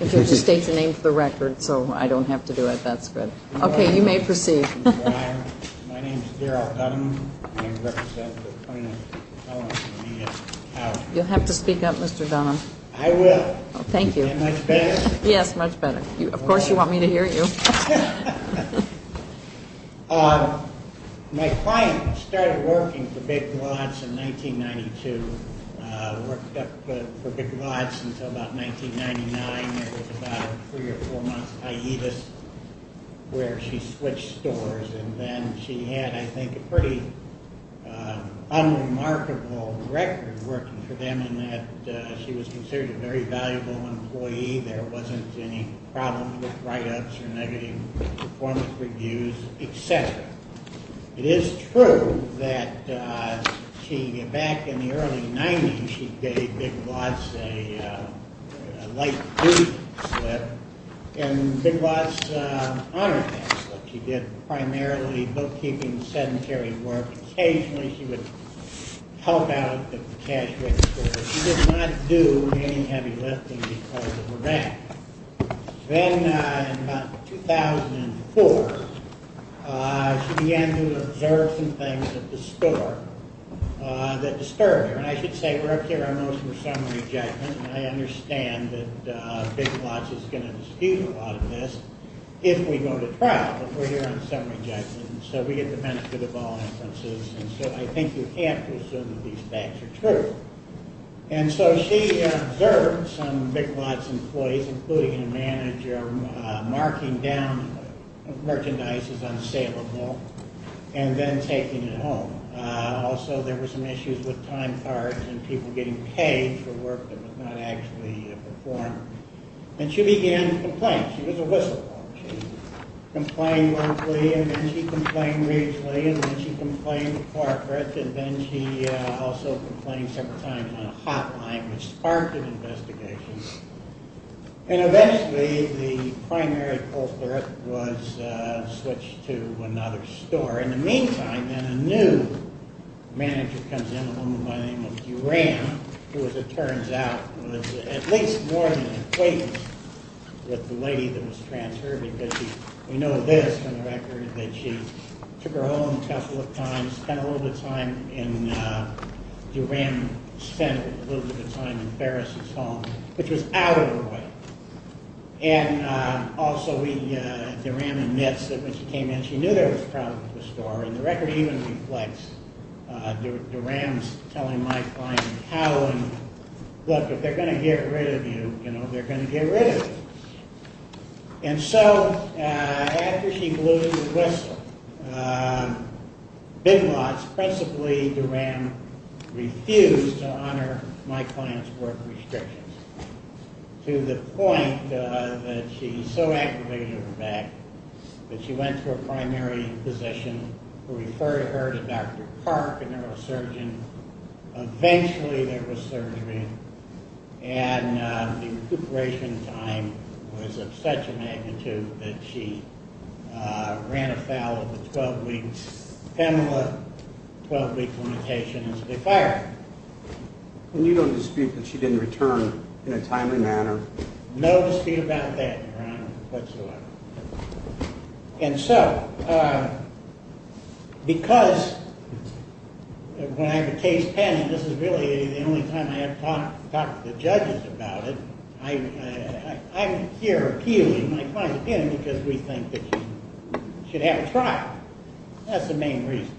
If you'll just state your name for the record, so I don't have to do it, that's good. Okay, you may proceed. My name is Daryl Dunham. I represent the plaintiffs' felonies. You'll have to speak up, Mr. Dunham. I will. Thank you. Is that much better? Yes, much better. Of course you want me to hear you. My client started working for Big Lots in 1992. Worked for Big Lots until about 1999. There was about a three or four month hiatus where she switched stores. And then she had, I think, a pretty unremarkable record working for them in that she was considered a very valuable employee. There wasn't any problems with write-ups or negative performance reviews, etc. It is true that she, back in the early 90s, she gave Big Lots a light boot slip. And Big Lots honored that slip. She did primarily bookkeeping, sedentary work. Occasionally she would help out at the cash register. But she did not do any heavy lifting because of her back. Then, in about 2004, she began to observe some things at the store that disturbed her. And I should say we're up here on those for summary judgment. And I understand that Big Lots is going to dispute a lot of this if we go to trial. But we're here on summary judgment. And so we get the benefit of all inferences. And so I think you can't assume that these facts are true. And so she observed some Big Lots employees, including a manager, marking down merchandise as unsaleable and then taking it home. Also, there were some issues with time cards and people getting paid for work that was not actually performed. And she began to complain. She was a whistleblower. She complained briefly. And then she complained briefly. And then she complained to corporate. And then she also complained several times on a hotline, which sparked an investigation. And eventually, the primary culprit was switched to another store. In the meantime, then, a new manager comes in, a woman by the name of Duran, who, as it turns out, was at least more than an acquaintance with the lady that was transferred. Because we know this from the record, that she took her home a couple of times, spent a little bit of time in Duran, spent a little bit of time in Ferris's home, which was out of her way. And also, Duran admits that when she came in, she knew there was problems with the store. And the record even reflects Duran telling my client, look, if they're going to get rid of you, they're going to get rid of you. And so, after she blew the whistle, Big Lots, principally Duran, refused to honor my client's work restrictions to the point that she so aggravated her back that she went to a primary physician who referred her to Dr. Park, a neurosurgeon. Eventually, there was surgery. And the recuperation time was of such a magnitude that she ran afoul of the 12-week PEMLA, 12-week limitation, and so they fired her. And you don't dispute that she didn't return in a timely manner? No dispute about that, Your Honor, whatsoever. And so, because when I have a case pending, this is really the only time I ever talk to the judges about it, I'm here appealing my client's opinion because we think that she should have a trial. That's the main reason.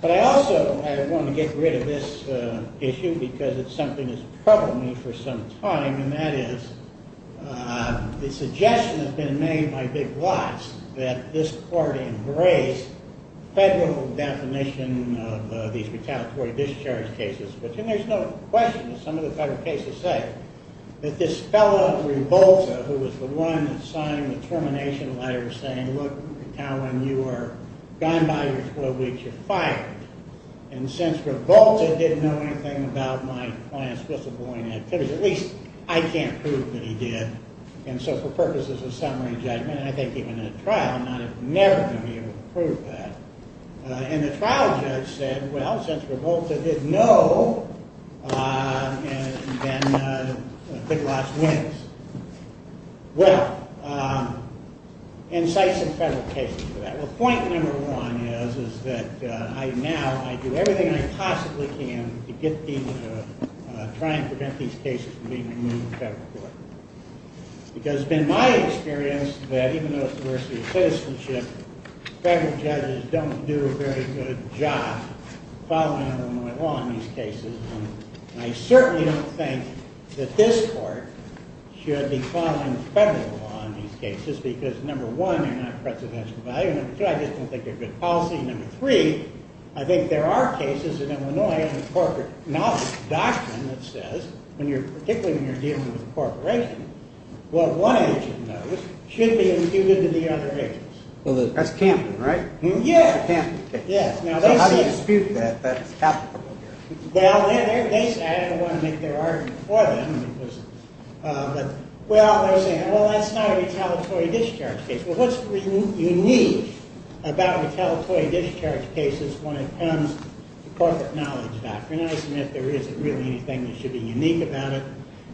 But I also want to get rid of this issue because it's something that's troubled me for some time, and that is the suggestion that's been made by Big Lots that this court embrace federal definition of these retaliatory discharge cases, which there's no question that some of the federal cases say that this fellow, Rivalta, who was the one that signed the termination letter saying, look, when you are gone by your 12 weeks, you're fired. And since Rivalta didn't know anything about my client's whistleblowing activities, at least I can't prove that he did. And so for purposes of summary judgment, and I think even in a trial, I'm never going to be able to prove that. And the trial judge said, well, since Rivalta didn't know, then Big Lots wins. Well, incite some federal cases for that. Well, point number one is that now I do everything I possibly can to try and prevent these cases from being removed in federal court. Because it's been my experience that even though it's the worst of your citizenship, federal judges don't do a very good job following Illinois law in these cases. And I certainly don't think that this court should be following federal law in these cases because, number one, they're not of precedential value. Number two, I just don't think they're good policy. And number three, I think there are cases in Illinois in the corporate knowledge doctrine that says, particularly when you're dealing with a corporation, what one agent knows should be imputed to the other agents. Well, that's Camden, right? Yes. So how do you dispute that? That's applicable here. Well, I didn't want to make their argument for them. Well, they're saying, well, that's not a retaliatory discharge case. Well, what's unique about retaliatory discharge cases when it comes to corporate knowledge doctrine? I submit there isn't really anything that should be unique about it.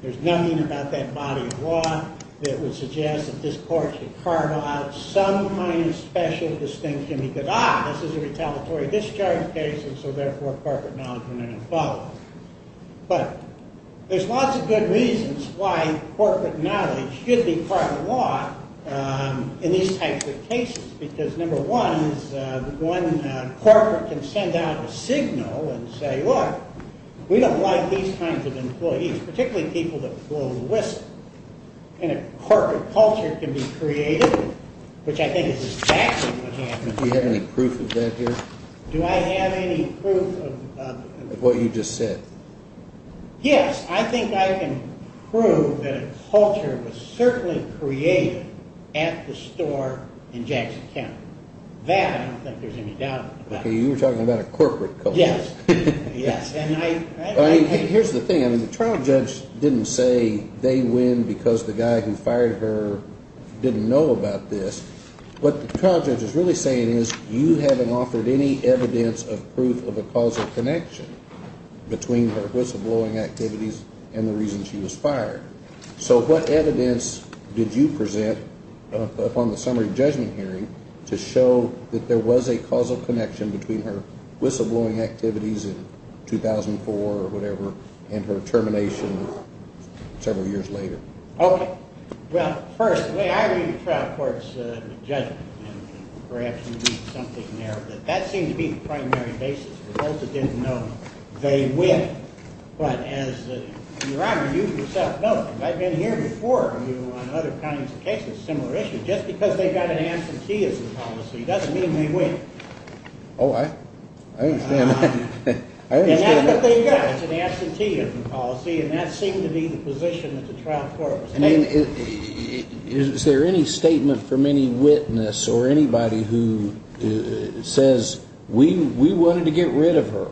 There's nothing about that body of law that would suggest that this court should carve out some kind of special distinction. He could, ah, this is a retaliatory discharge case, and so therefore corporate knowledge wouldn't have followed. But there's lots of good reasons why corporate knowledge should be part of the law in these types of cases, because number one, one corporate can send out a signal and say, look, we don't like these kinds of employees, particularly people that blow the whistle. And a corporate culture can be created, which I think is exactly what happened. Do you have any proof of that here? Do I have any proof of what you just said? Yes, I think I can prove that a culture was certainly created at the store in Jackson County. That I don't think there's any doubt about. Okay, you were talking about a corporate culture. Yes, yes. Here's the thing. The trial judge didn't say they win because the guy who fired her didn't know about this. What the trial judge is really saying is you haven't offered any evidence of proof of a causal connection between her whistleblowing activities and the reason she was fired. So what evidence did you present upon the summary judgment hearing to show that there was a causal connection between her whistleblowing activities in 2004 or whatever and her termination several years later? Okay. Well, first, the way I read the trial court's judgment, and perhaps you read something there, that that seemed to be the primary basis. They both didn't know they win. But as, Your Honor, you yourself know, and I've been here before you on other kinds of cases, similar issues, just because they've got an absenteeism policy doesn't mean they win. Oh, I understand that. And that's what they've got. It's an absenteeism policy, and that seemed to be the position that the trial court was aiming for. Is there any statement from any witness or anybody who says we wanted to get rid of her?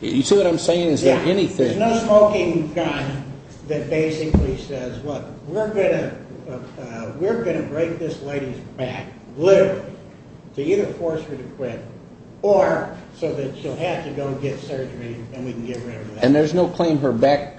You see what I'm saying? Is there anything? Yeah. There's no smoking gun that basically says, look, we're going to break this lady's back, literally, to either force her to quit or so that she'll have to go get surgery and we can get rid of her. And there's no claim her back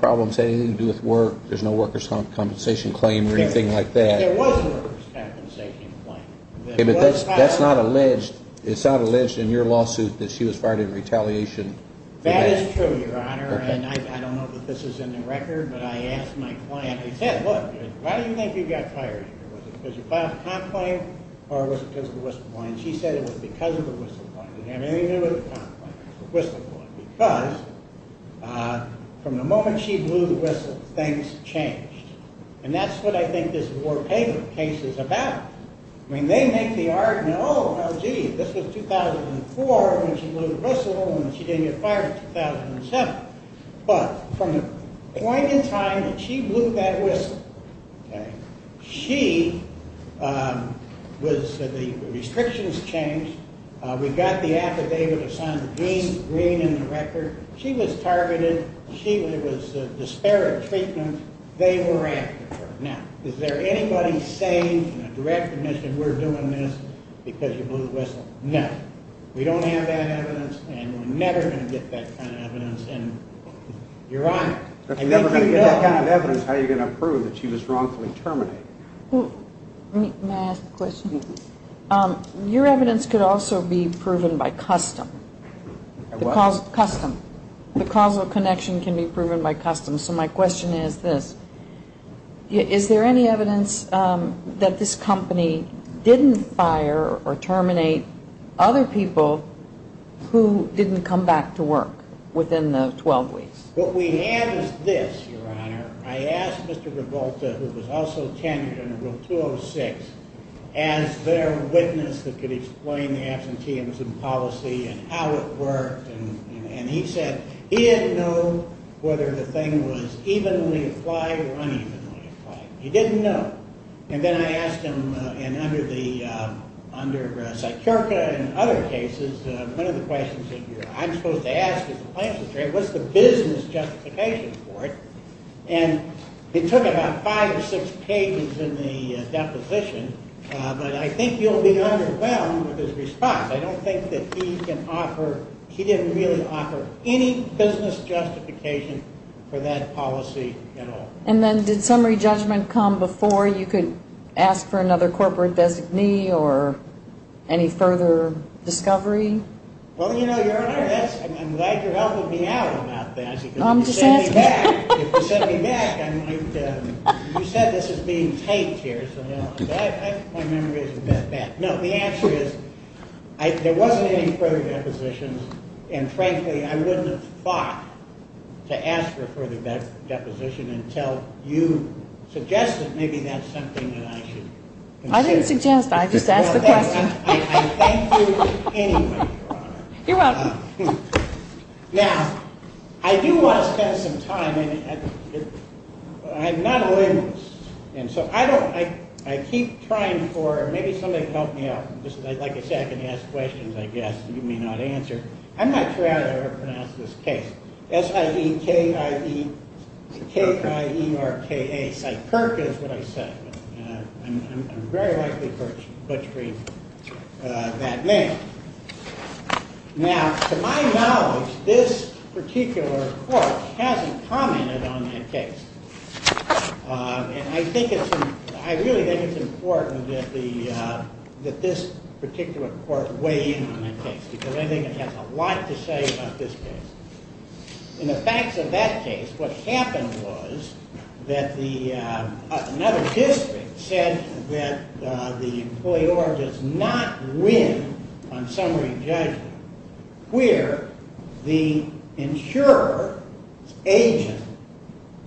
problems had anything to do with work? There's no workers' compensation claim or anything like that? There was a workers' compensation claim. Okay, but that's not alleged. It's not alleged in your lawsuit that she was fired in retaliation. That is true, Your Honor. And I don't know that this is in the record, but I asked my client, I said, look, why do you think you got fired? Was it because you filed a complaint or was it because of the whistleblowing? She said it was because of the whistleblowing. It didn't have anything to do with the complaint. It was the whistleblowing because from the moment she blew the whistle, things changed. And that's what I think this War Paper case is about. I mean, they make the argument, oh, well, gee, this was 2004 when she blew the whistle and she didn't get fired in 2007. But from the point in time that she blew that whistle, she was the restrictions changed. We got the affidavit of Senator Green in the record. She was targeted. There was disparate treatment. They were after her. Now, is there anybody saying in a direct admission we're doing this because you blew the whistle? No. We don't have that evidence and we're never going to get that kind of evidence You're right. We're never going to get that kind of evidence. How are you going to prove that she was wrongfully terminated? May I ask a question? Your evidence could also be proven by custom. Custom. The causal connection can be proven by custom. So my question is this. Is there any evidence that this company didn't fire or terminate other people who didn't come back to work within the 12 weeks? What we have is this, Your Honor. I asked Mr. Revolta, who was also tenured under Rule 206, as their witness that could explain the absenteeism policy and how it worked. And he said he didn't know whether the thing was evenly applied or unevenly applied. He didn't know. And then I asked him, and under Sykirka and other cases, one of the questions I'm supposed to ask is what's the business justification for it? And it took about five or six pages in the deposition, but I think you'll be underwhelmed with his response. I don't think that he can offer, he didn't really offer any business justification for that policy at all. And then did summary judgment come before you could ask for another corporate designee or any further discovery? Well, you know, Your Honor, I'm glad you're helping me out about that. I'm just asking. If you send me back, I might, you said this is being taped here, so my memory is a bit bad. No, the answer is there wasn't any further depositions, and, frankly, I wouldn't have thought to ask for a further deposition until you suggested maybe that's something that I should consider. I didn't suggest, I just asked the question. I thank you anyway, Your Honor. You're welcome. Now, I do want to spend some time, and I'm not a lawyer, and so I keep trying for maybe somebody to help me out. Like I say, I can ask questions, I guess. You may not answer. I'm not sure how to pronounce this case. S-I-E-K-I-E, K-I-E-R-K-A. Cyperk is what I said. I'm very likely butchering that name. Now, to my knowledge, this particular court hasn't commented on that case. And I really think it's important that this particular court weigh in on that case because I think it has a lot to say about this case. In the facts of that case, what happened was that another district said that the employer does not win on summary judgment where the insurer's agent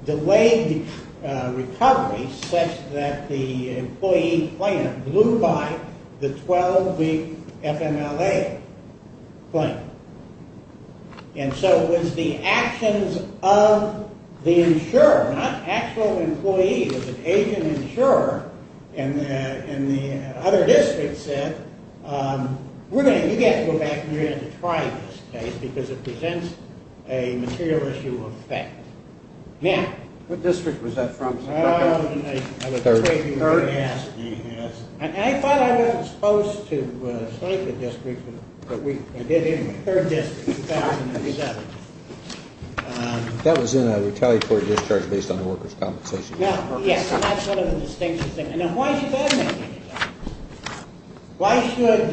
delayed recovery such that the employee claim blew by the 12-week FMLA claim. And so it was the actions of the insurer, not actual employee, but the agent insurer, and the other district said, we're going to need to go back and try this case because it presents a material issue of fact. Now. What district was that from, Cyperk? Third. I thought I was supposed to cite the district, but we did it in the third district in 2007. That was in a retaliatory discharge based on the worker's compensation. Yes, and that's sort of a distinctive thing. Now, why should that make any difference? Why should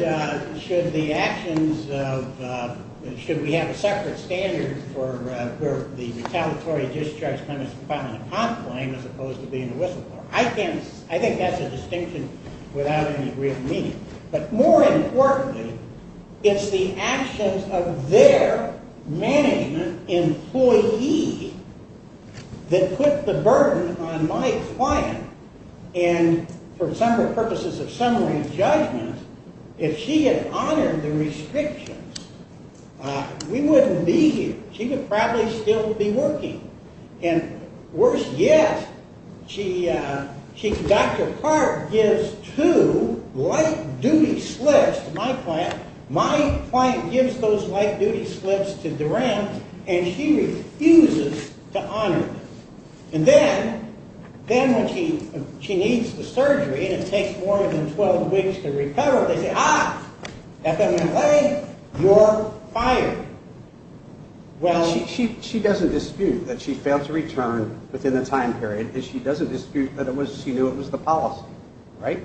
the actions of, should we have a separate standard for the retaliatory discharge kind of compiling a comp claim as opposed to being a whistleblower? I think that's a distinction without any real meaning. But more importantly, it's the actions of their management employee that put the burden on my client. And for the purposes of summary and judgment, if she had honored the restrictions, we wouldn't be here. She would probably still be working. And worse yet, Dr. Clark gives two light-duty slips to my client. My client gives those light-duty slips to Duran, and she refuses to honor them. And then when she needs the surgery and it takes more than 12 weeks to recover, they say, ah, FMLA, you're fired. Well, she doesn't dispute that she failed to return within the time period, and she doesn't dispute that she knew it was the policy, right?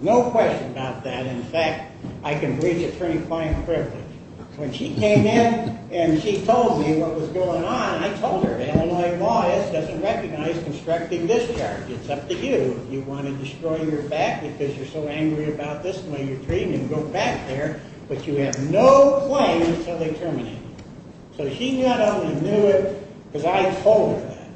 No question about that. In fact, I can breach attorney-client privilege. When she came in and she told me what was going on, I told her Illinois law doesn't recognize constructing discharge. It's up to you if you want to destroy your back because you're so angry about this and why you're treating it and go back there. But you have no claim until they terminate it. So she not only knew it because I told her that.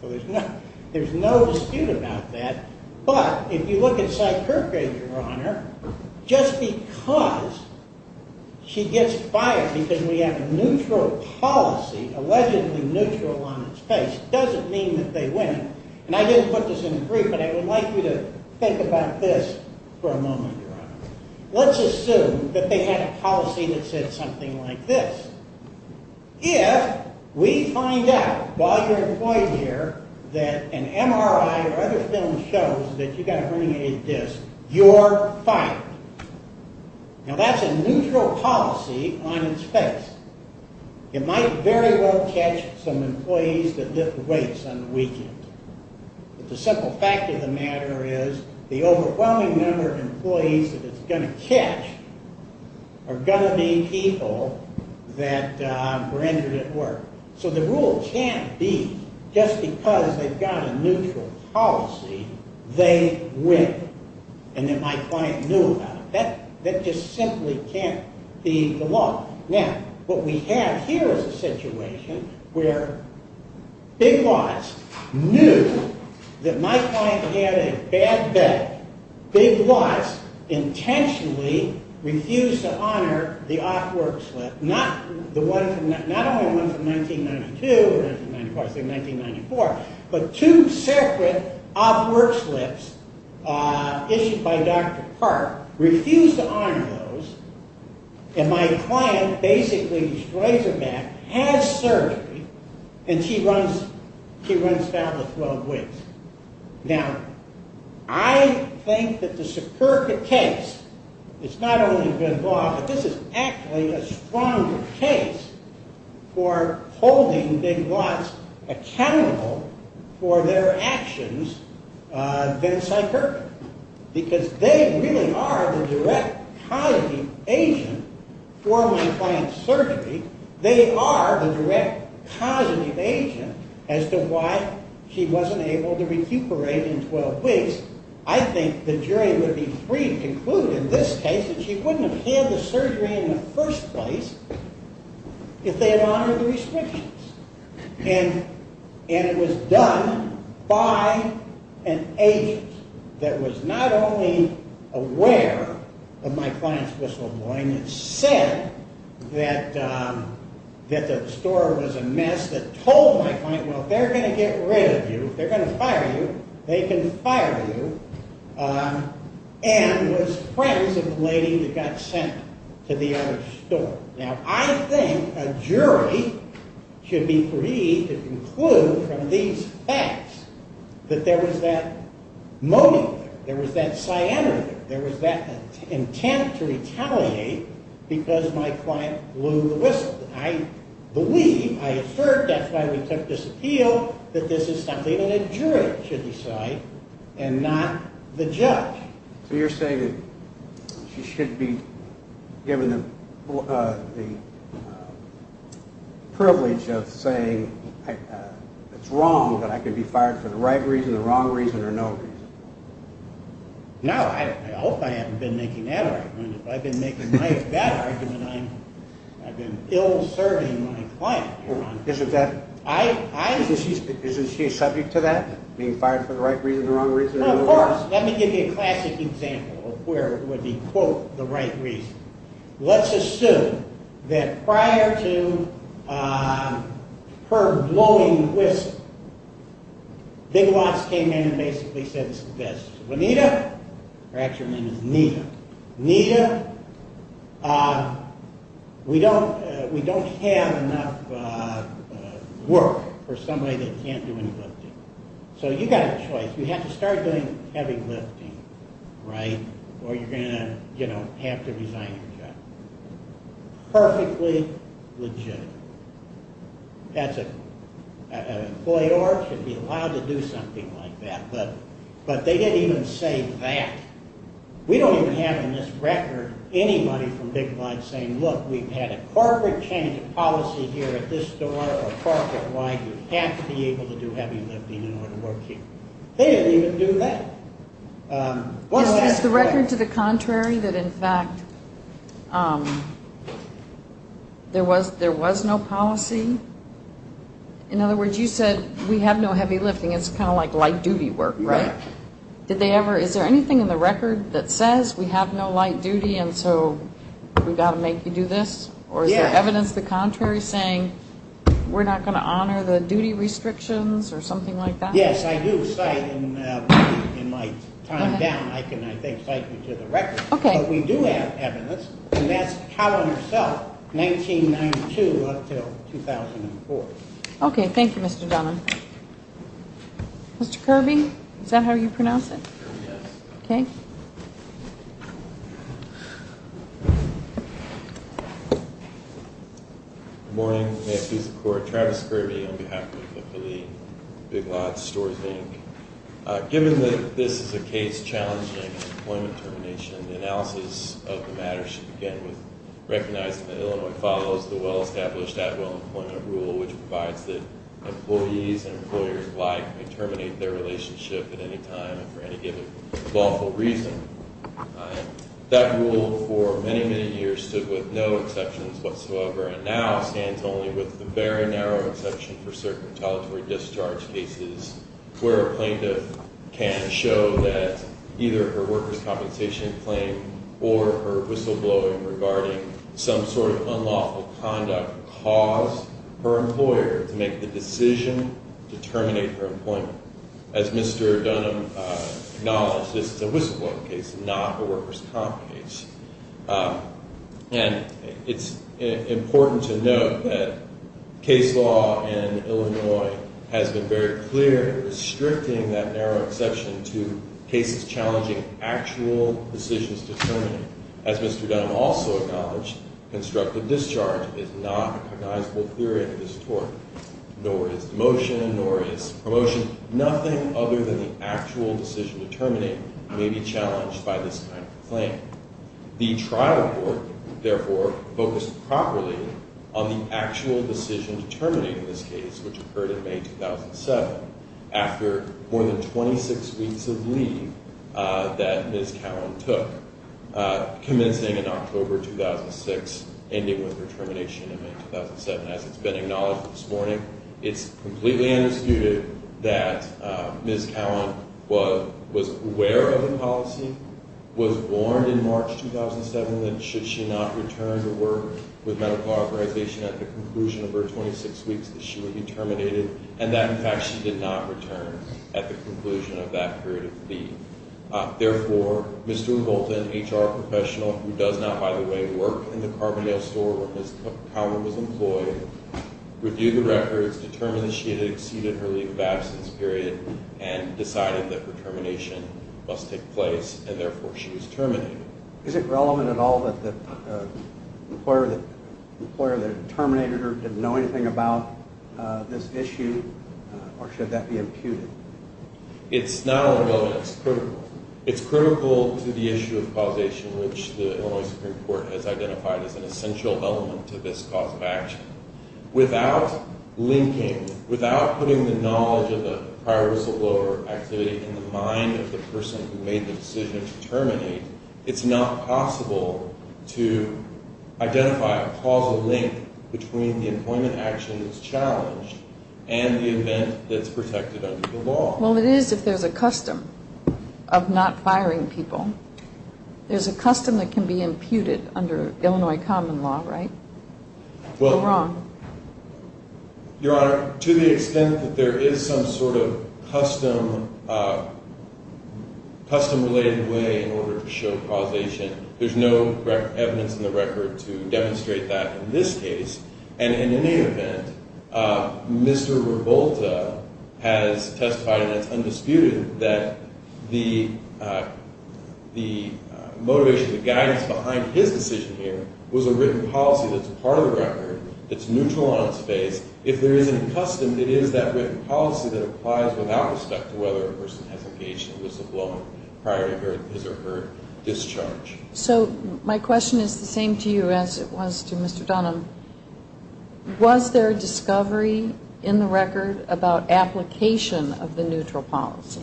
So there's no dispute about that. But if you look at Sykirche, Your Honor, just because she gets fired because we have a neutral policy, allegedly neutral on its face, doesn't mean that they win. And I didn't put this in the brief, but I would like you to think about this for a moment, Your Honor. Let's assume that they had a policy that said something like this. If we find out while you're employed here that an MRI or other film shows that you've got a herniated disc, you're fired. Now, that's a neutral policy on its face. It might very well catch some employees that lift weights on the weekend. But the simple fact of the matter is the overwhelming number of employees that it's going to catch are going to be people that were injured at work. So the rule can't be just because they've got a neutral policy, they win and that my client knew about it. That just simply can't be the law. Now, what we have here is a situation where Big Lots knew that my client had a bad day. Big Lots intentionally refused to honor the op work slip, not only one from 1992 or 1994, but two separate op work slips issued by Dr. Park, refused to honor those. And my client basically destroys her back, has surgery, and she runs battle with 12 weights. Now, I think that the Sikirka case is not only good law, but this is actually a stronger case for holding Big Lots accountable for their actions than Sikirka, because they really are the direct cognitive agent for my client's surgery. They are the direct cognitive agent as to why she wasn't able to recuperate in 12 weeks. I think the jury would be free to conclude in this case that she wouldn't have had the surgery in the first place if they had honored the restrictions. And it was done by an agent that was not only aware of my client's whistleblowing and said that the store was a mess, that told my client, well, if they're going to get rid of you, if they're going to fire you, they can fire you, and was friends with the lady that got sent to the other store. Now, I think a jury should be free to conclude from these facts that there was that moaning there. There was that cyanide there. There was that intent to retaliate because my client blew the whistle. I believe, I have heard, that's why we took this appeal, that this is something that a jury should decide and not the judge. So you're saying that she should be given the privilege of saying, it's wrong, but I can be fired for the right reason, the wrong reason, or no reason. No, I hope I haven't been making that argument. If I've been making that argument, I've been ill-serving my client, Your Honor. Isn't she subject to that, being fired for the right reason, the wrong reason? Of course. Let me give you a classic example of where it would be, quote, the right reason. Let's assume that prior to her blowing the whistle, Big Lots came in and basically said this, Juanita, her actual name is Nita, Nita, we don't have enough work for somebody that can't do any lifting. So you've got a choice. You have to start doing heavy lifting, right? Or you're going to have to resign your job. Perfectly legitimate. As an employee, you're allowed to do something like that. But they didn't even say that. We don't even have in this record anybody from Big Lots saying, look, we've had a corporate change of policy here at this store, or corporate, why you have to be able to do heavy lifting in order to work here. They didn't even do that. Is the record to the contrary that, in fact, there was no policy? In other words, you said we have no heavy lifting. It's kind of like light duty work, right? Is there anything in the record that says we have no light duty and so we've got to make you do this? Or is there evidence to the contrary saying we're not going to honor the duty restrictions or something like that? Yes, I do cite in my time down. I can, I think, cite you to the record. But we do have evidence, and that's calendar self, 1992 up until 2004. Okay. Thank you, Mr. Dunham. Mr. Kirby, is that how you pronounce it? Yes. Okay. Good morning. May it please the Court. Travis Kirby on behalf of the Philippe Big Lots Stores Bank. Given that this is a case challenging employment termination, the analysis of the matter should begin with recognizing that Illinois follows the well-established which provides that employees and employers alike may terminate their relationship at any time for any given lawful reason. That rule for many, many years stood with no exceptions whatsoever and now stands only with the very narrow exception for certain retaliatory discharge cases where a plaintiff can show that either her workers' compensation claim or her whistleblowing regarding some sort of unlawful conduct caused her employer to make the decision to terminate her employment. As Mr. Dunham acknowledged, this is a whistleblowing case, not a workers' comp case. And it's important to note that case law in Illinois has been very clear restricting that narrow exception to cases challenging actual decisions to terminate. As Mr. Dunham also acknowledged, constructive discharge is not a cognizable theory at this Court, nor is demotion, nor is promotion. Nothing other than the actual decision to terminate may be challenged by this kind of claim. The trial board, therefore, focused properly on the actual decision to terminate this case, which occurred in May 2007, after more than 26 weeks of leave that Ms. Cowan took, commencing in October 2006, ending with her termination in May 2007. As it's been acknowledged this morning, it's completely undisputed that Ms. Cowan was aware of the policy, was warned in March 2007 that should she not return to work with medical authorization at the conclusion of her 26 weeks that she would be terminated, and that, in fact, she did not return at the conclusion of that period of leave. Therefore, Mr. Revolta, an HR professional who does not, by the way, work in the Carbondale store where Ms. Cowan was employed, reviewed the records, determined that she had exceeded her leave of absence period, and decided that her termination must take place, and therefore she was terminated. Is it relevant at all that the employer that terminated her didn't know anything about this issue, or should that be imputed? It's not only relevant, it's critical. It's critical to the issue of causation, which the Illinois Supreme Court has identified as an essential element to this cause of action. Without linking, without putting the knowledge of the prior whistleblower activity in the mind of the person who made the decision to terminate, it's not possible to identify a causal link between the employment action that's challenged and the event that's protected under the law. Well, it is if there's a custom of not firing people. There's a custom that can be imputed under Illinois common law, right? Or wrong? Your Honor, to the extent that there is some sort of custom-related way in order to show causation, there's no evidence in the record to demonstrate that in this case. And in any event, Mr. Revolta has testified, and it's undisputed, that the motivation, the guidance behind his decision here was a written policy that's part of the record that's neutral on its face. If there is a custom, it is that written policy that applies without respect to whether a person has engaged in a whistleblowing prior to his or her discharge. So my question is the same to you as it was to Mr. Dunham. Was there a discovery in the record about application of the neutral policy?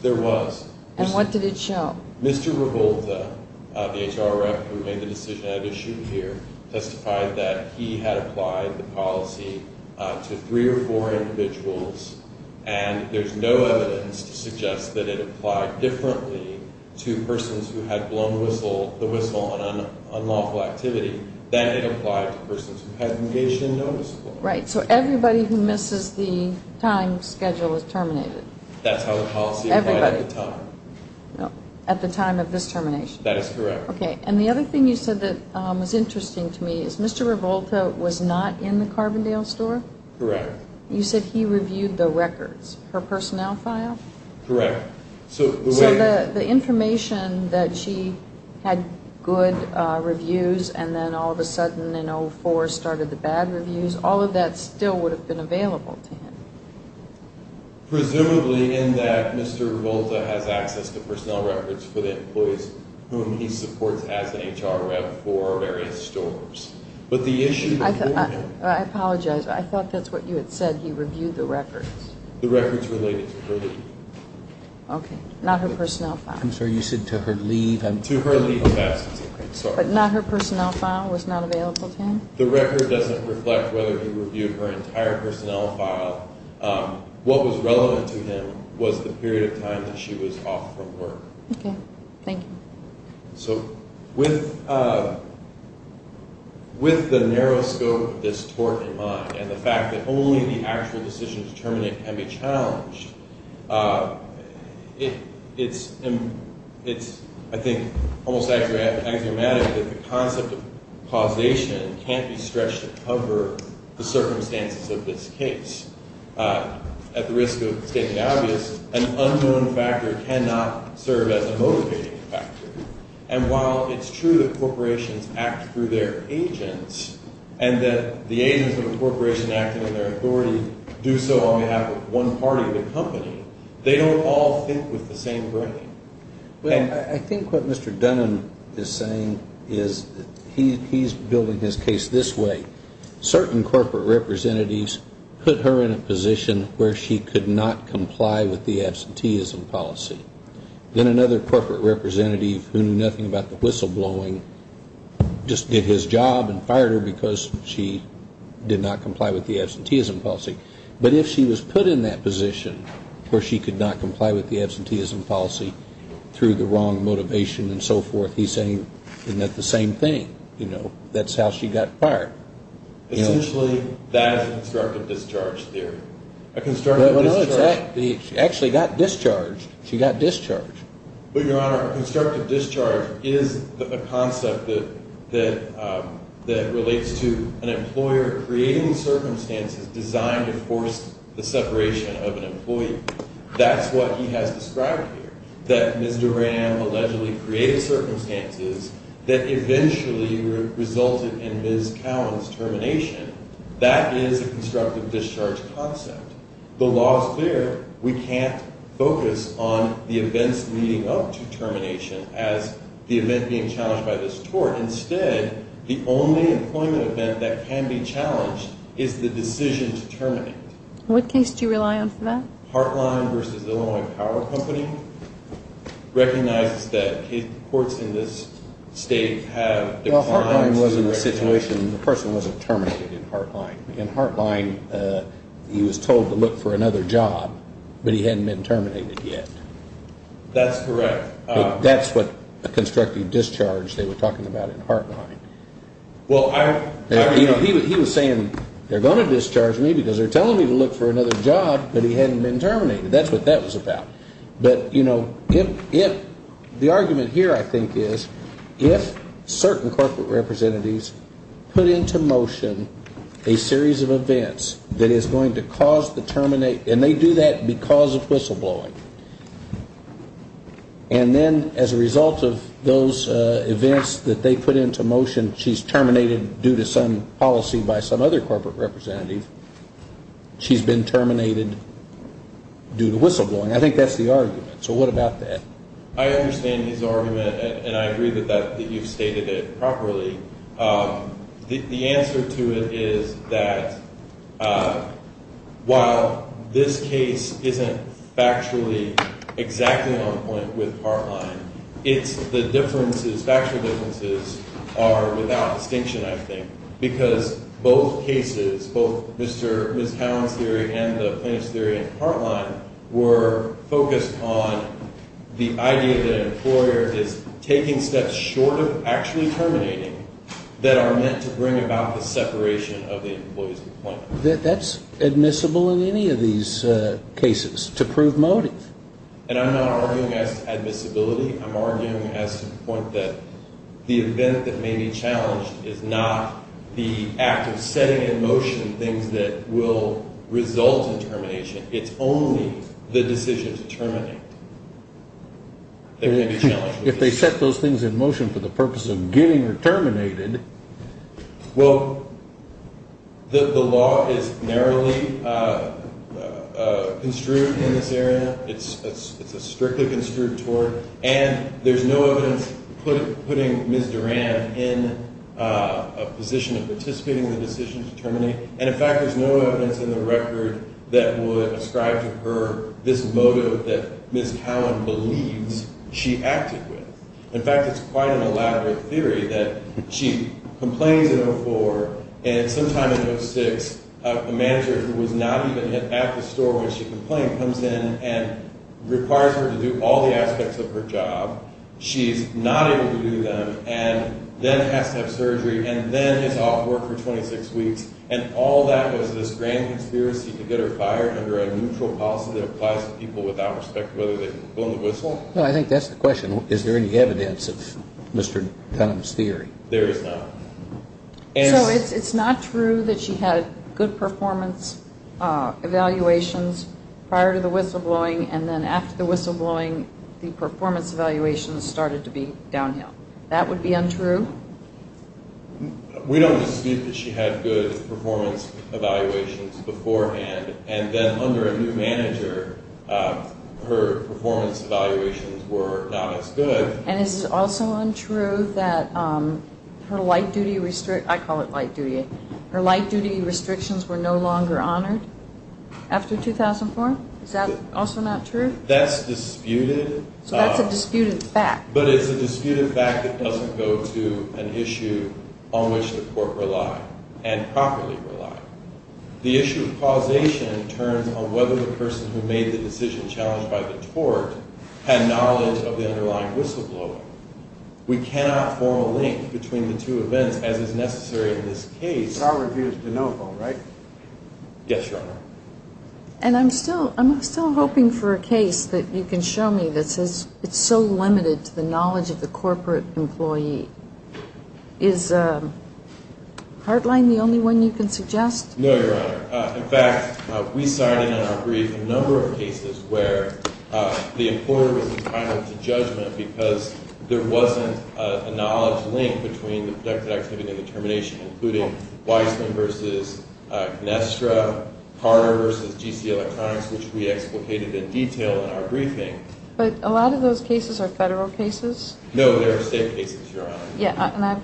There was. And what did it show? Mr. Revolta, the HR rep who made the decision I've issued here, testified that he had applied the policy to three or four individuals, and there's no evidence to suggest that it applied differently to persons who had blown the whistle on unlawful activity than it applied to persons who had engaged in noticeable. Right. So everybody who misses the time schedule is terminated. That's how the policy applied at the time. At the time of this termination. That is correct. Okay. And the other thing you said that was interesting to me is Mr. Revolta was not in the Carbondale store? Correct. You said he reviewed the records, her personnel file? Correct. So the information that she had good reviews and then all of a sudden in 2004 started the bad reviews, all of that still would have been available to him? Presumably in that Mr. Revolta has access to personnel records for the employees whom he supports as an HR rep for various stores. But the issue before him. I apologize. I thought that's what you had said. He reviewed the records. The records related to her leave. Okay. Not her personnel file. I'm sorry. You said to her leave. To her leave of absence. I'm sorry. But not her personnel file was not available to him? The record doesn't reflect whether he reviewed her entire personnel file. What was relevant to him was the period of time that she was off from work. Okay. Thank you. So with the narrow scope of this tort in mind and the fact that only the actual decision to terminate can be challenged, it's, I think, almost axiomatic that the concept of causation can't be stretched to cover the circumstances of this case. At the risk of stating the obvious, an unknown factor cannot serve as a motivating factor. And while it's true that corporations act through their agents and that the agents of a corporation acting on their authority do so on behalf of one party of the company, they don't all think with the same brain. Well, I think what Mr. Dunn is saying is he's building his case this way. Certain corporate representatives put her in a position where she could not comply with the absenteeism policy. Then another corporate representative who knew nothing about the whistleblowing just did his job and fired her because she did not comply with the absenteeism policy. But if she was put in that position where she could not comply with the absenteeism policy through the wrong motivation and so forth, he's saying, isn't that the same thing? You know, that's how she got fired. Essentially, that is a constructive discharge theory. Well, no, it's that she actually got discharged. She got discharged. But, Your Honor, a constructive discharge is a concept that relates to an employer creating circumstances designed to force the separation of an employee. That's what he has described here, that Ms. Duran allegedly created circumstances that eventually resulted in Ms. Cowan's termination. That is a constructive discharge concept. The law is clear. We can't focus on the events leading up to termination as the event being challenged by this tort. Instead, the only employment event that can be challenged is the decision to terminate. What case do you rely on for that? Heartline v. Illinois Power Company recognizes that courts in this state have declined to recognize that. The person wasn't terminated in Heartline. In Heartline, he was told to look for another job, but he hadn't been terminated yet. That's correct. That's what a constructive discharge they were talking about in Heartline. He was saying, they're going to discharge me because they're telling me to look for another job, but he hadn't been terminated. That's what that was about. But, you know, the argument here, I think, is if certain corporate representatives put into motion a series of events that is going to cause the termination, and they do that because of whistleblowing, and then as a result of those events that they put into motion, she's terminated due to some policy by some other corporate representative, she's been terminated due to whistleblowing. I think that's the argument. So what about that? I understand his argument, and I agree that you've stated it properly. The answer to it is that while this case isn't factually exactly on point with Heartline, the differences, factual differences, are without distinction, I think, because both cases, both Ms. Cowan's theory and the plaintiff's theory in Heartline, were focused on the idea that an employer is taking steps short of actually terminating that are meant to bring about the separation of the employee's employment. That's admissible in any of these cases to prove motive. And I'm not arguing as to admissibility. I'm arguing as to the point that the event that may be challenged is not the act of setting in motion things that will result in termination. It's only the decision to terminate that may be challenged. If they set those things in motion for the purpose of getting her terminated. Well, the law is narrowly construed in this area. It's a strictly construed tort, and there's no evidence putting Ms. Durand in a position of participating in the decision to terminate. And, in fact, there's no evidence in the record that would ascribe to her this motive that Ms. Cowan believes she acted with. In fact, it's quite an elaborate theory that she complains in 04, and sometime in 06, a manager who was not even at the store when she complained comes in and requires her to do all the aspects of her job. She's not able to do them, and then has to have surgery, and then is off work for 26 weeks. And all that was this grand conspiracy to get her fired under a neutral policy that applies to people without respect, whether they can blow the whistle. No, I think that's the question. Is there any evidence of Mr. Dunham's theory? There is not. So it's not true that she had good performance evaluations prior to the whistleblowing, and then after the whistleblowing, the performance evaluations started to be downhill. That would be untrue? We don't dispute that she had good performance evaluations beforehand, and then under a new manager, her performance evaluations were not as good. And is it also untrue that her light-duty restrictions were no longer honored after 2004? Is that also not true? That's disputed. So that's a disputed fact. But it's a disputed fact that doesn't go to an issue on which the court relied, and properly relied. The issue of causation turns on whether the person who made the decision challenged by the court had knowledge of the underlying whistleblower. We cannot form a link between the two events, as is necessary in this case. But our review is de novo, right? Yes, Your Honor. And I'm still hoping for a case that you can show me that says it's so limited to the knowledge of the corporate employee. Is Heartline the only one you can suggest? No, Your Honor. In fact, we signed in on our brief a number of cases where the employer was entitled to judgment because there wasn't a knowledge link between the productive activity and the termination, including Weissman v. Gnestra, Carter v. G.C. Electronics, which we explicated in detail in our briefing. But a lot of those cases are federal cases? No, they're state cases, Your Honor.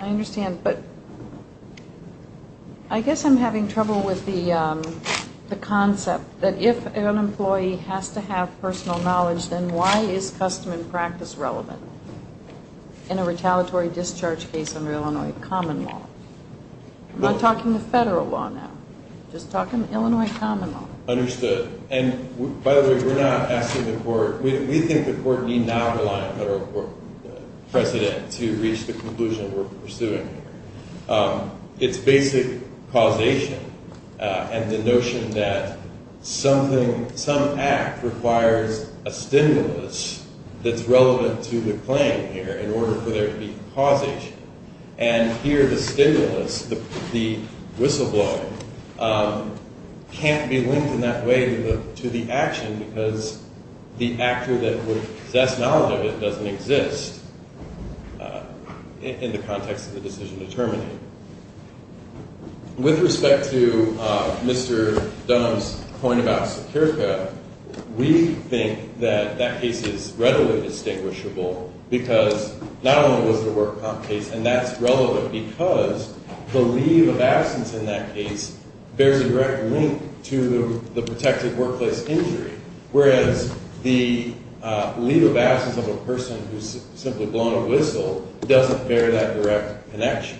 I understand, but I guess I'm having trouble with the concept that if an employee has to have personal knowledge, then why is custom and practice relevant in a retaliatory discharge case under Illinois common law? I'm not talking the federal law now. I'm just talking Illinois common law. Understood. And, by the way, we're not asking the court. We think the court need not rely on federal precedent to reach the conclusion we're pursuing. It's basic causation and the notion that something, some act requires a stimulus that's relevant to the claim here in order for there to be causation. And here the stimulus, the whistleblowing, can't be linked in that way to the action because the actor that would possess knowledge of it doesn't exist in the context of the decision to terminate. With respect to Mr. Dunham's point about Securica, we think that that case is readily distinguishable because not only was the work comp case, and that's relevant because the leave of absence in that case bears a direct link to the protected workplace injury. Whereas the leave of absence of a person who's simply blown a whistle doesn't bear that direct connection.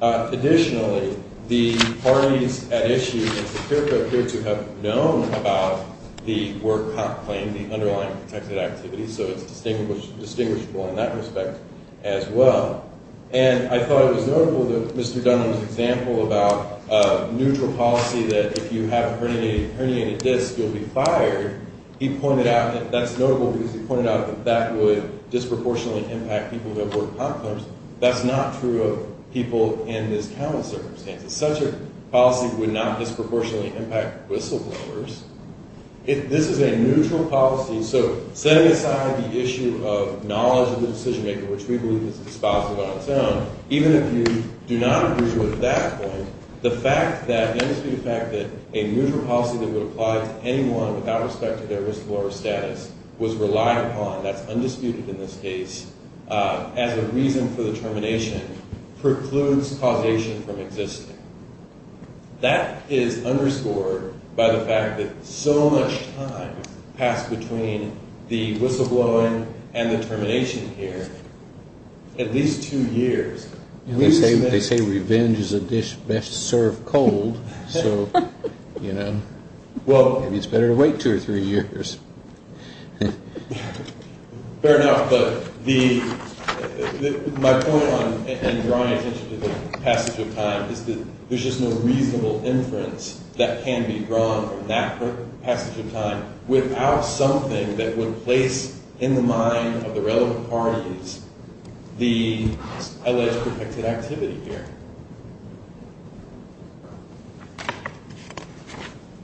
Additionally, the parties at issue in Securica appear to have known about the work comp claim, the underlying protected activity, so it's distinguishable in that respect as well. And I thought it was notable that Mr. Dunham's example about a neutral policy that if you have a herniated disc, you'll be fired, he pointed out that that's notable because he pointed out that that would disproportionately impact people who have work comp claims. That's not true of people in this common circumstance. Such a policy would not disproportionately impact whistleblowers. This is a neutral policy, so setting aside the issue of knowledge of the decision maker, which we believe is dispositive on its own, even if you do not agree with that point, the fact that a neutral policy that would apply to anyone without respect to their risk of lower status was relied upon, that's undisputed in this case, as a reason for the termination, precludes causation from existing. That is underscored by the fact that so much time passed between the whistleblowing and the termination here, at least two years. They say revenge is a dish best served cold, so maybe it's better to wait two or three years. Fair enough, but my point in drawing attention to the passage of time is that there's just no reasonable inference that can be drawn from that passage of time without something that would place in the mind of the relevant parties the alleged protected activity here.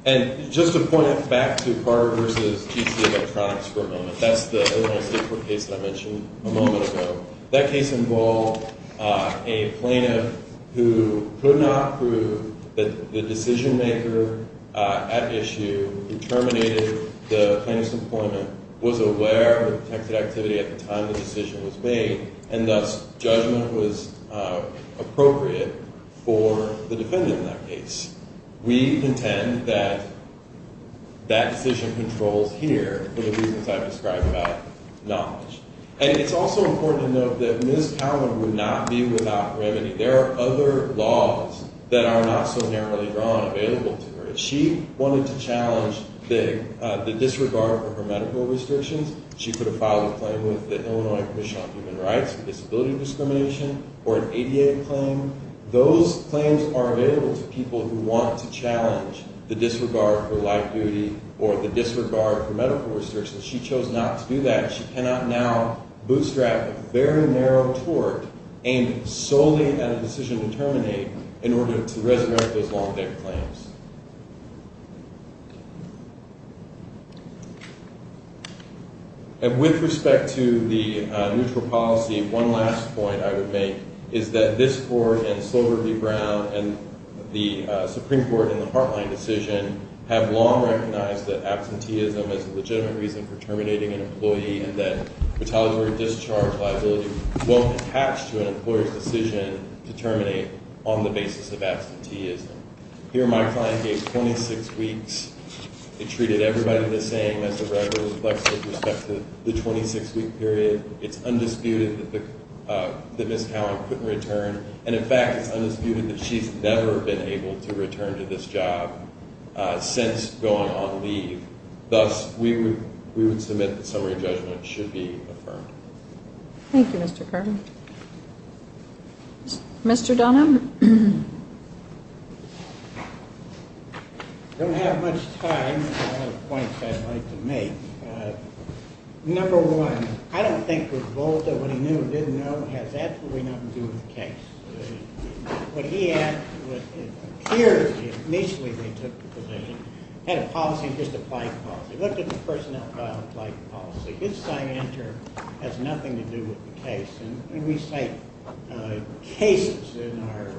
And just to point back to Carter v. GC Electronics for a moment, that's the most important case that I mentioned a moment ago. That case involved a plaintiff who could not prove that the decision maker at issue who terminated the plaintiff's employment was aware of the protected activity at the time the decision was made and thus, judgment was appropriate for the defendant in that case. We contend that that decision controls here for the reasons I've described about knowledge. And it's also important to note that Ms. Callen would not be without remedy. There are other laws that are not so narrowly drawn available to her. If she wanted to challenge the disregard for her medical restrictions, she could have filed a claim with the Illinois Commission on Human Rights for disability discrimination or an ADA claim. Those claims are available to people who want to challenge the disregard for life duty or the disregard for medical restrictions. She chose not to do that. She cannot now bootstrap a very narrow tort aimed solely at a decision to terminate in order to resurrect those long-dead claims. With respect to the neutral policy, one last point I would make is that this Court and Silver v. Brown and the Supreme Court in the Hartline decision have long recognized that absenteeism is a legitimate reason for terminating an employee and that retaliatory discharge liability won't attach to an employer's decision to terminate on the basis of absenteeism. Here, my client gave 26 weeks. It treated everybody the same as the record with respect to the 26-week period. It's undisputed that Ms. Callan couldn't return, and in fact, it's undisputed that she's never been able to return to this job since going on leave. Thus, we would submit that summary judgment should be affirmed. Thank you, Mr. Carter. Mr. Dunham? I don't have much time. I have points I'd like to make. Number one, I don't think what Volta, what he knew and didn't know, has absolutely nothing to do with the case. What he asked, what it appeared initially they took the position, had a policy of just applying policy. Looked at the personnel file and applied the policy. His sign-in term has nothing to do with the case. And we cite cases in our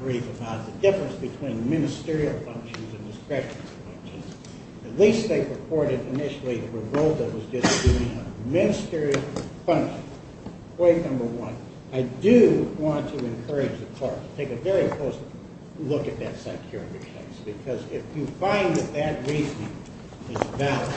brief about the difference between ministerial functions and discretionary functions. At least they reported initially that Volta was just doing a ministerial function. Point number one, I do want to encourage the court to take a very close look at that psychiatric case because if you find that that reasoning is valid,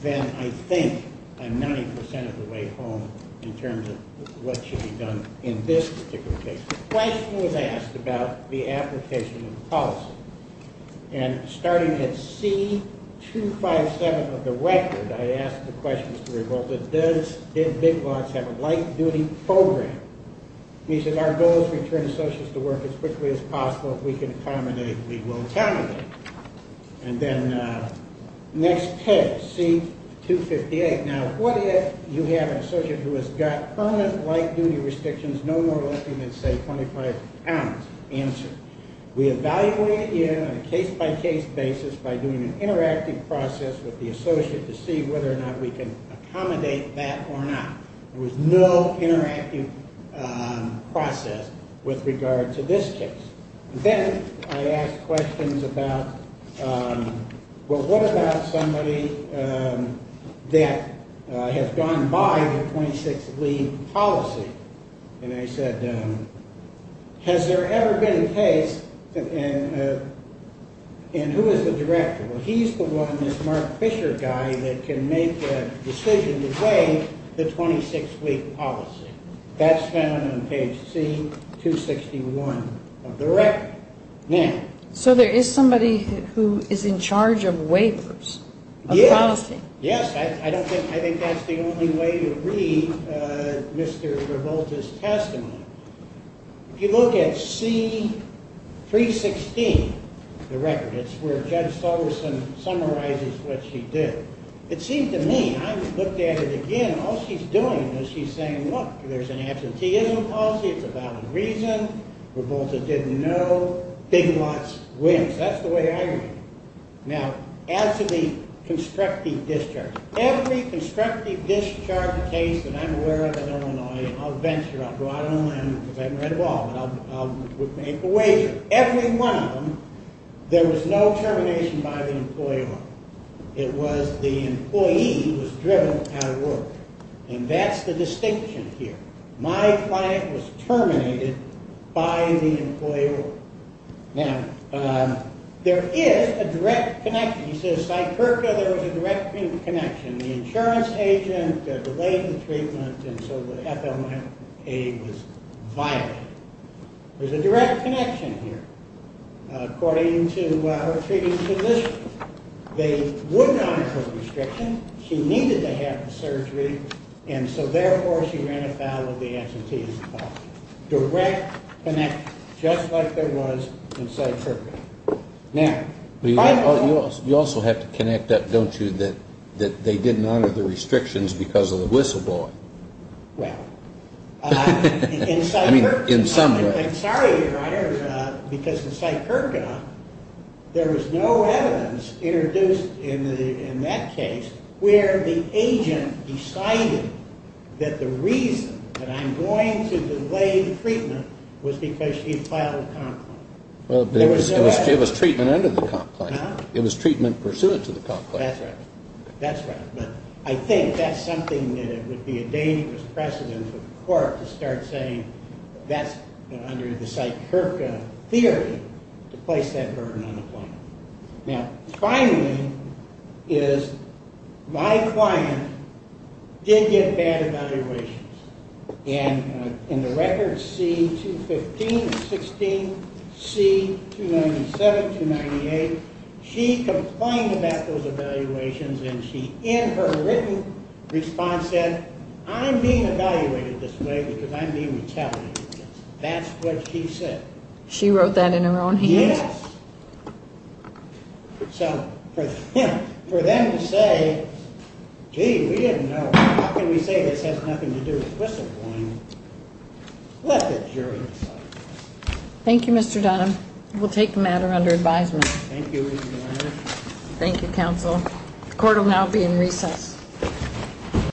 then I think I'm 90% of the way home in terms of what should be done in this particular case. The question was asked about the application of policy. And starting at C257 of the record, I asked the question, Mr. Revolta, did Big Lots have a light-duty program? He said, our goal is to return associates to work as quickly as possible. If we can accommodate, we will accommodate. And then next page, C258. Now, what if you have an associate who has got permanent light-duty restrictions no more likely than, say, 25 pounds? Answer, we evaluate it in on a case-by-case basis by doing an interactive process with the associate to see whether or not we can accommodate that or not. There was no interactive process with regard to this case. Then I asked questions about, well, what about somebody that has gone by the 26-week policy? And I said, has there ever been a case, and who is the director? Well, he's the one, this Mark Fisher guy, that can make the decision to waive the 26-week policy. That's found on page C261 of the record. So there is somebody who is in charge of waivers of policy? Yes. I think that's the only way to read Mr. Revolta's testimony. If you look at C316 of the record, it's where Judge Solerson summarizes what she did. It seems to me, I looked at it again, all she's doing is she's saying, look, there's an absenteeism policy, it's a valid reason, Revolta didn't know, Big Lots wins. That's the way I read it. Now, as to the constructive discharge, every constructive discharge case that I'm aware of in Illinois, I'll venture, I'll go out on a limb because I haven't read it all, but I'll make a wager. Every one of them, there was no termination by the employee law. It was the employee who was driven out of work. And that's the distinction here. My client was terminated by the employee law. Now, there is a direct connection. He says, Cypherka, there was a direct connection. The insurance agent delayed the treatment, and so the FMIA was violated. There's a direct connection here. According to her treating position, they wouldn't honor her restriction. She needed to have the surgery, and so therefore she ran afoul of the absenteeism policy. Direct connection, just like there was in Cypherka. Now, you also have to connect that, don't you, that they didn't honor the restrictions because of the whistleblower. Well, in some way. I'm sorry, Your Honor, because in Cypherka, there was no evidence introduced in that case where the agent decided that the reason that I'm going to delay the treatment was because she filed a complaint. It was treatment under the complaint. It was treatment pursuant to the complaint. That's right. But I think that's something that would be a dangerous precedent for the court to start saying that's under the Cypherka theory to place that burden on the plaintiff. Now, finally is my client did get bad evaluations. And in the records C215 and 16, C297, 298, she complained about those evaluations, and she in her written response said, I'm being evaluated this way because I'm being retaliated against. That's what she said. She wrote that in her own hands? Yes. So for them to say, gee, we didn't know. How can we say this has nothing to do with whistleblowing? Let the jury decide. Thank you, Mr. Dunham. We'll take the matter under advisement. Thank you, Your Honor. Thank you, counsel. The court will now be in recess.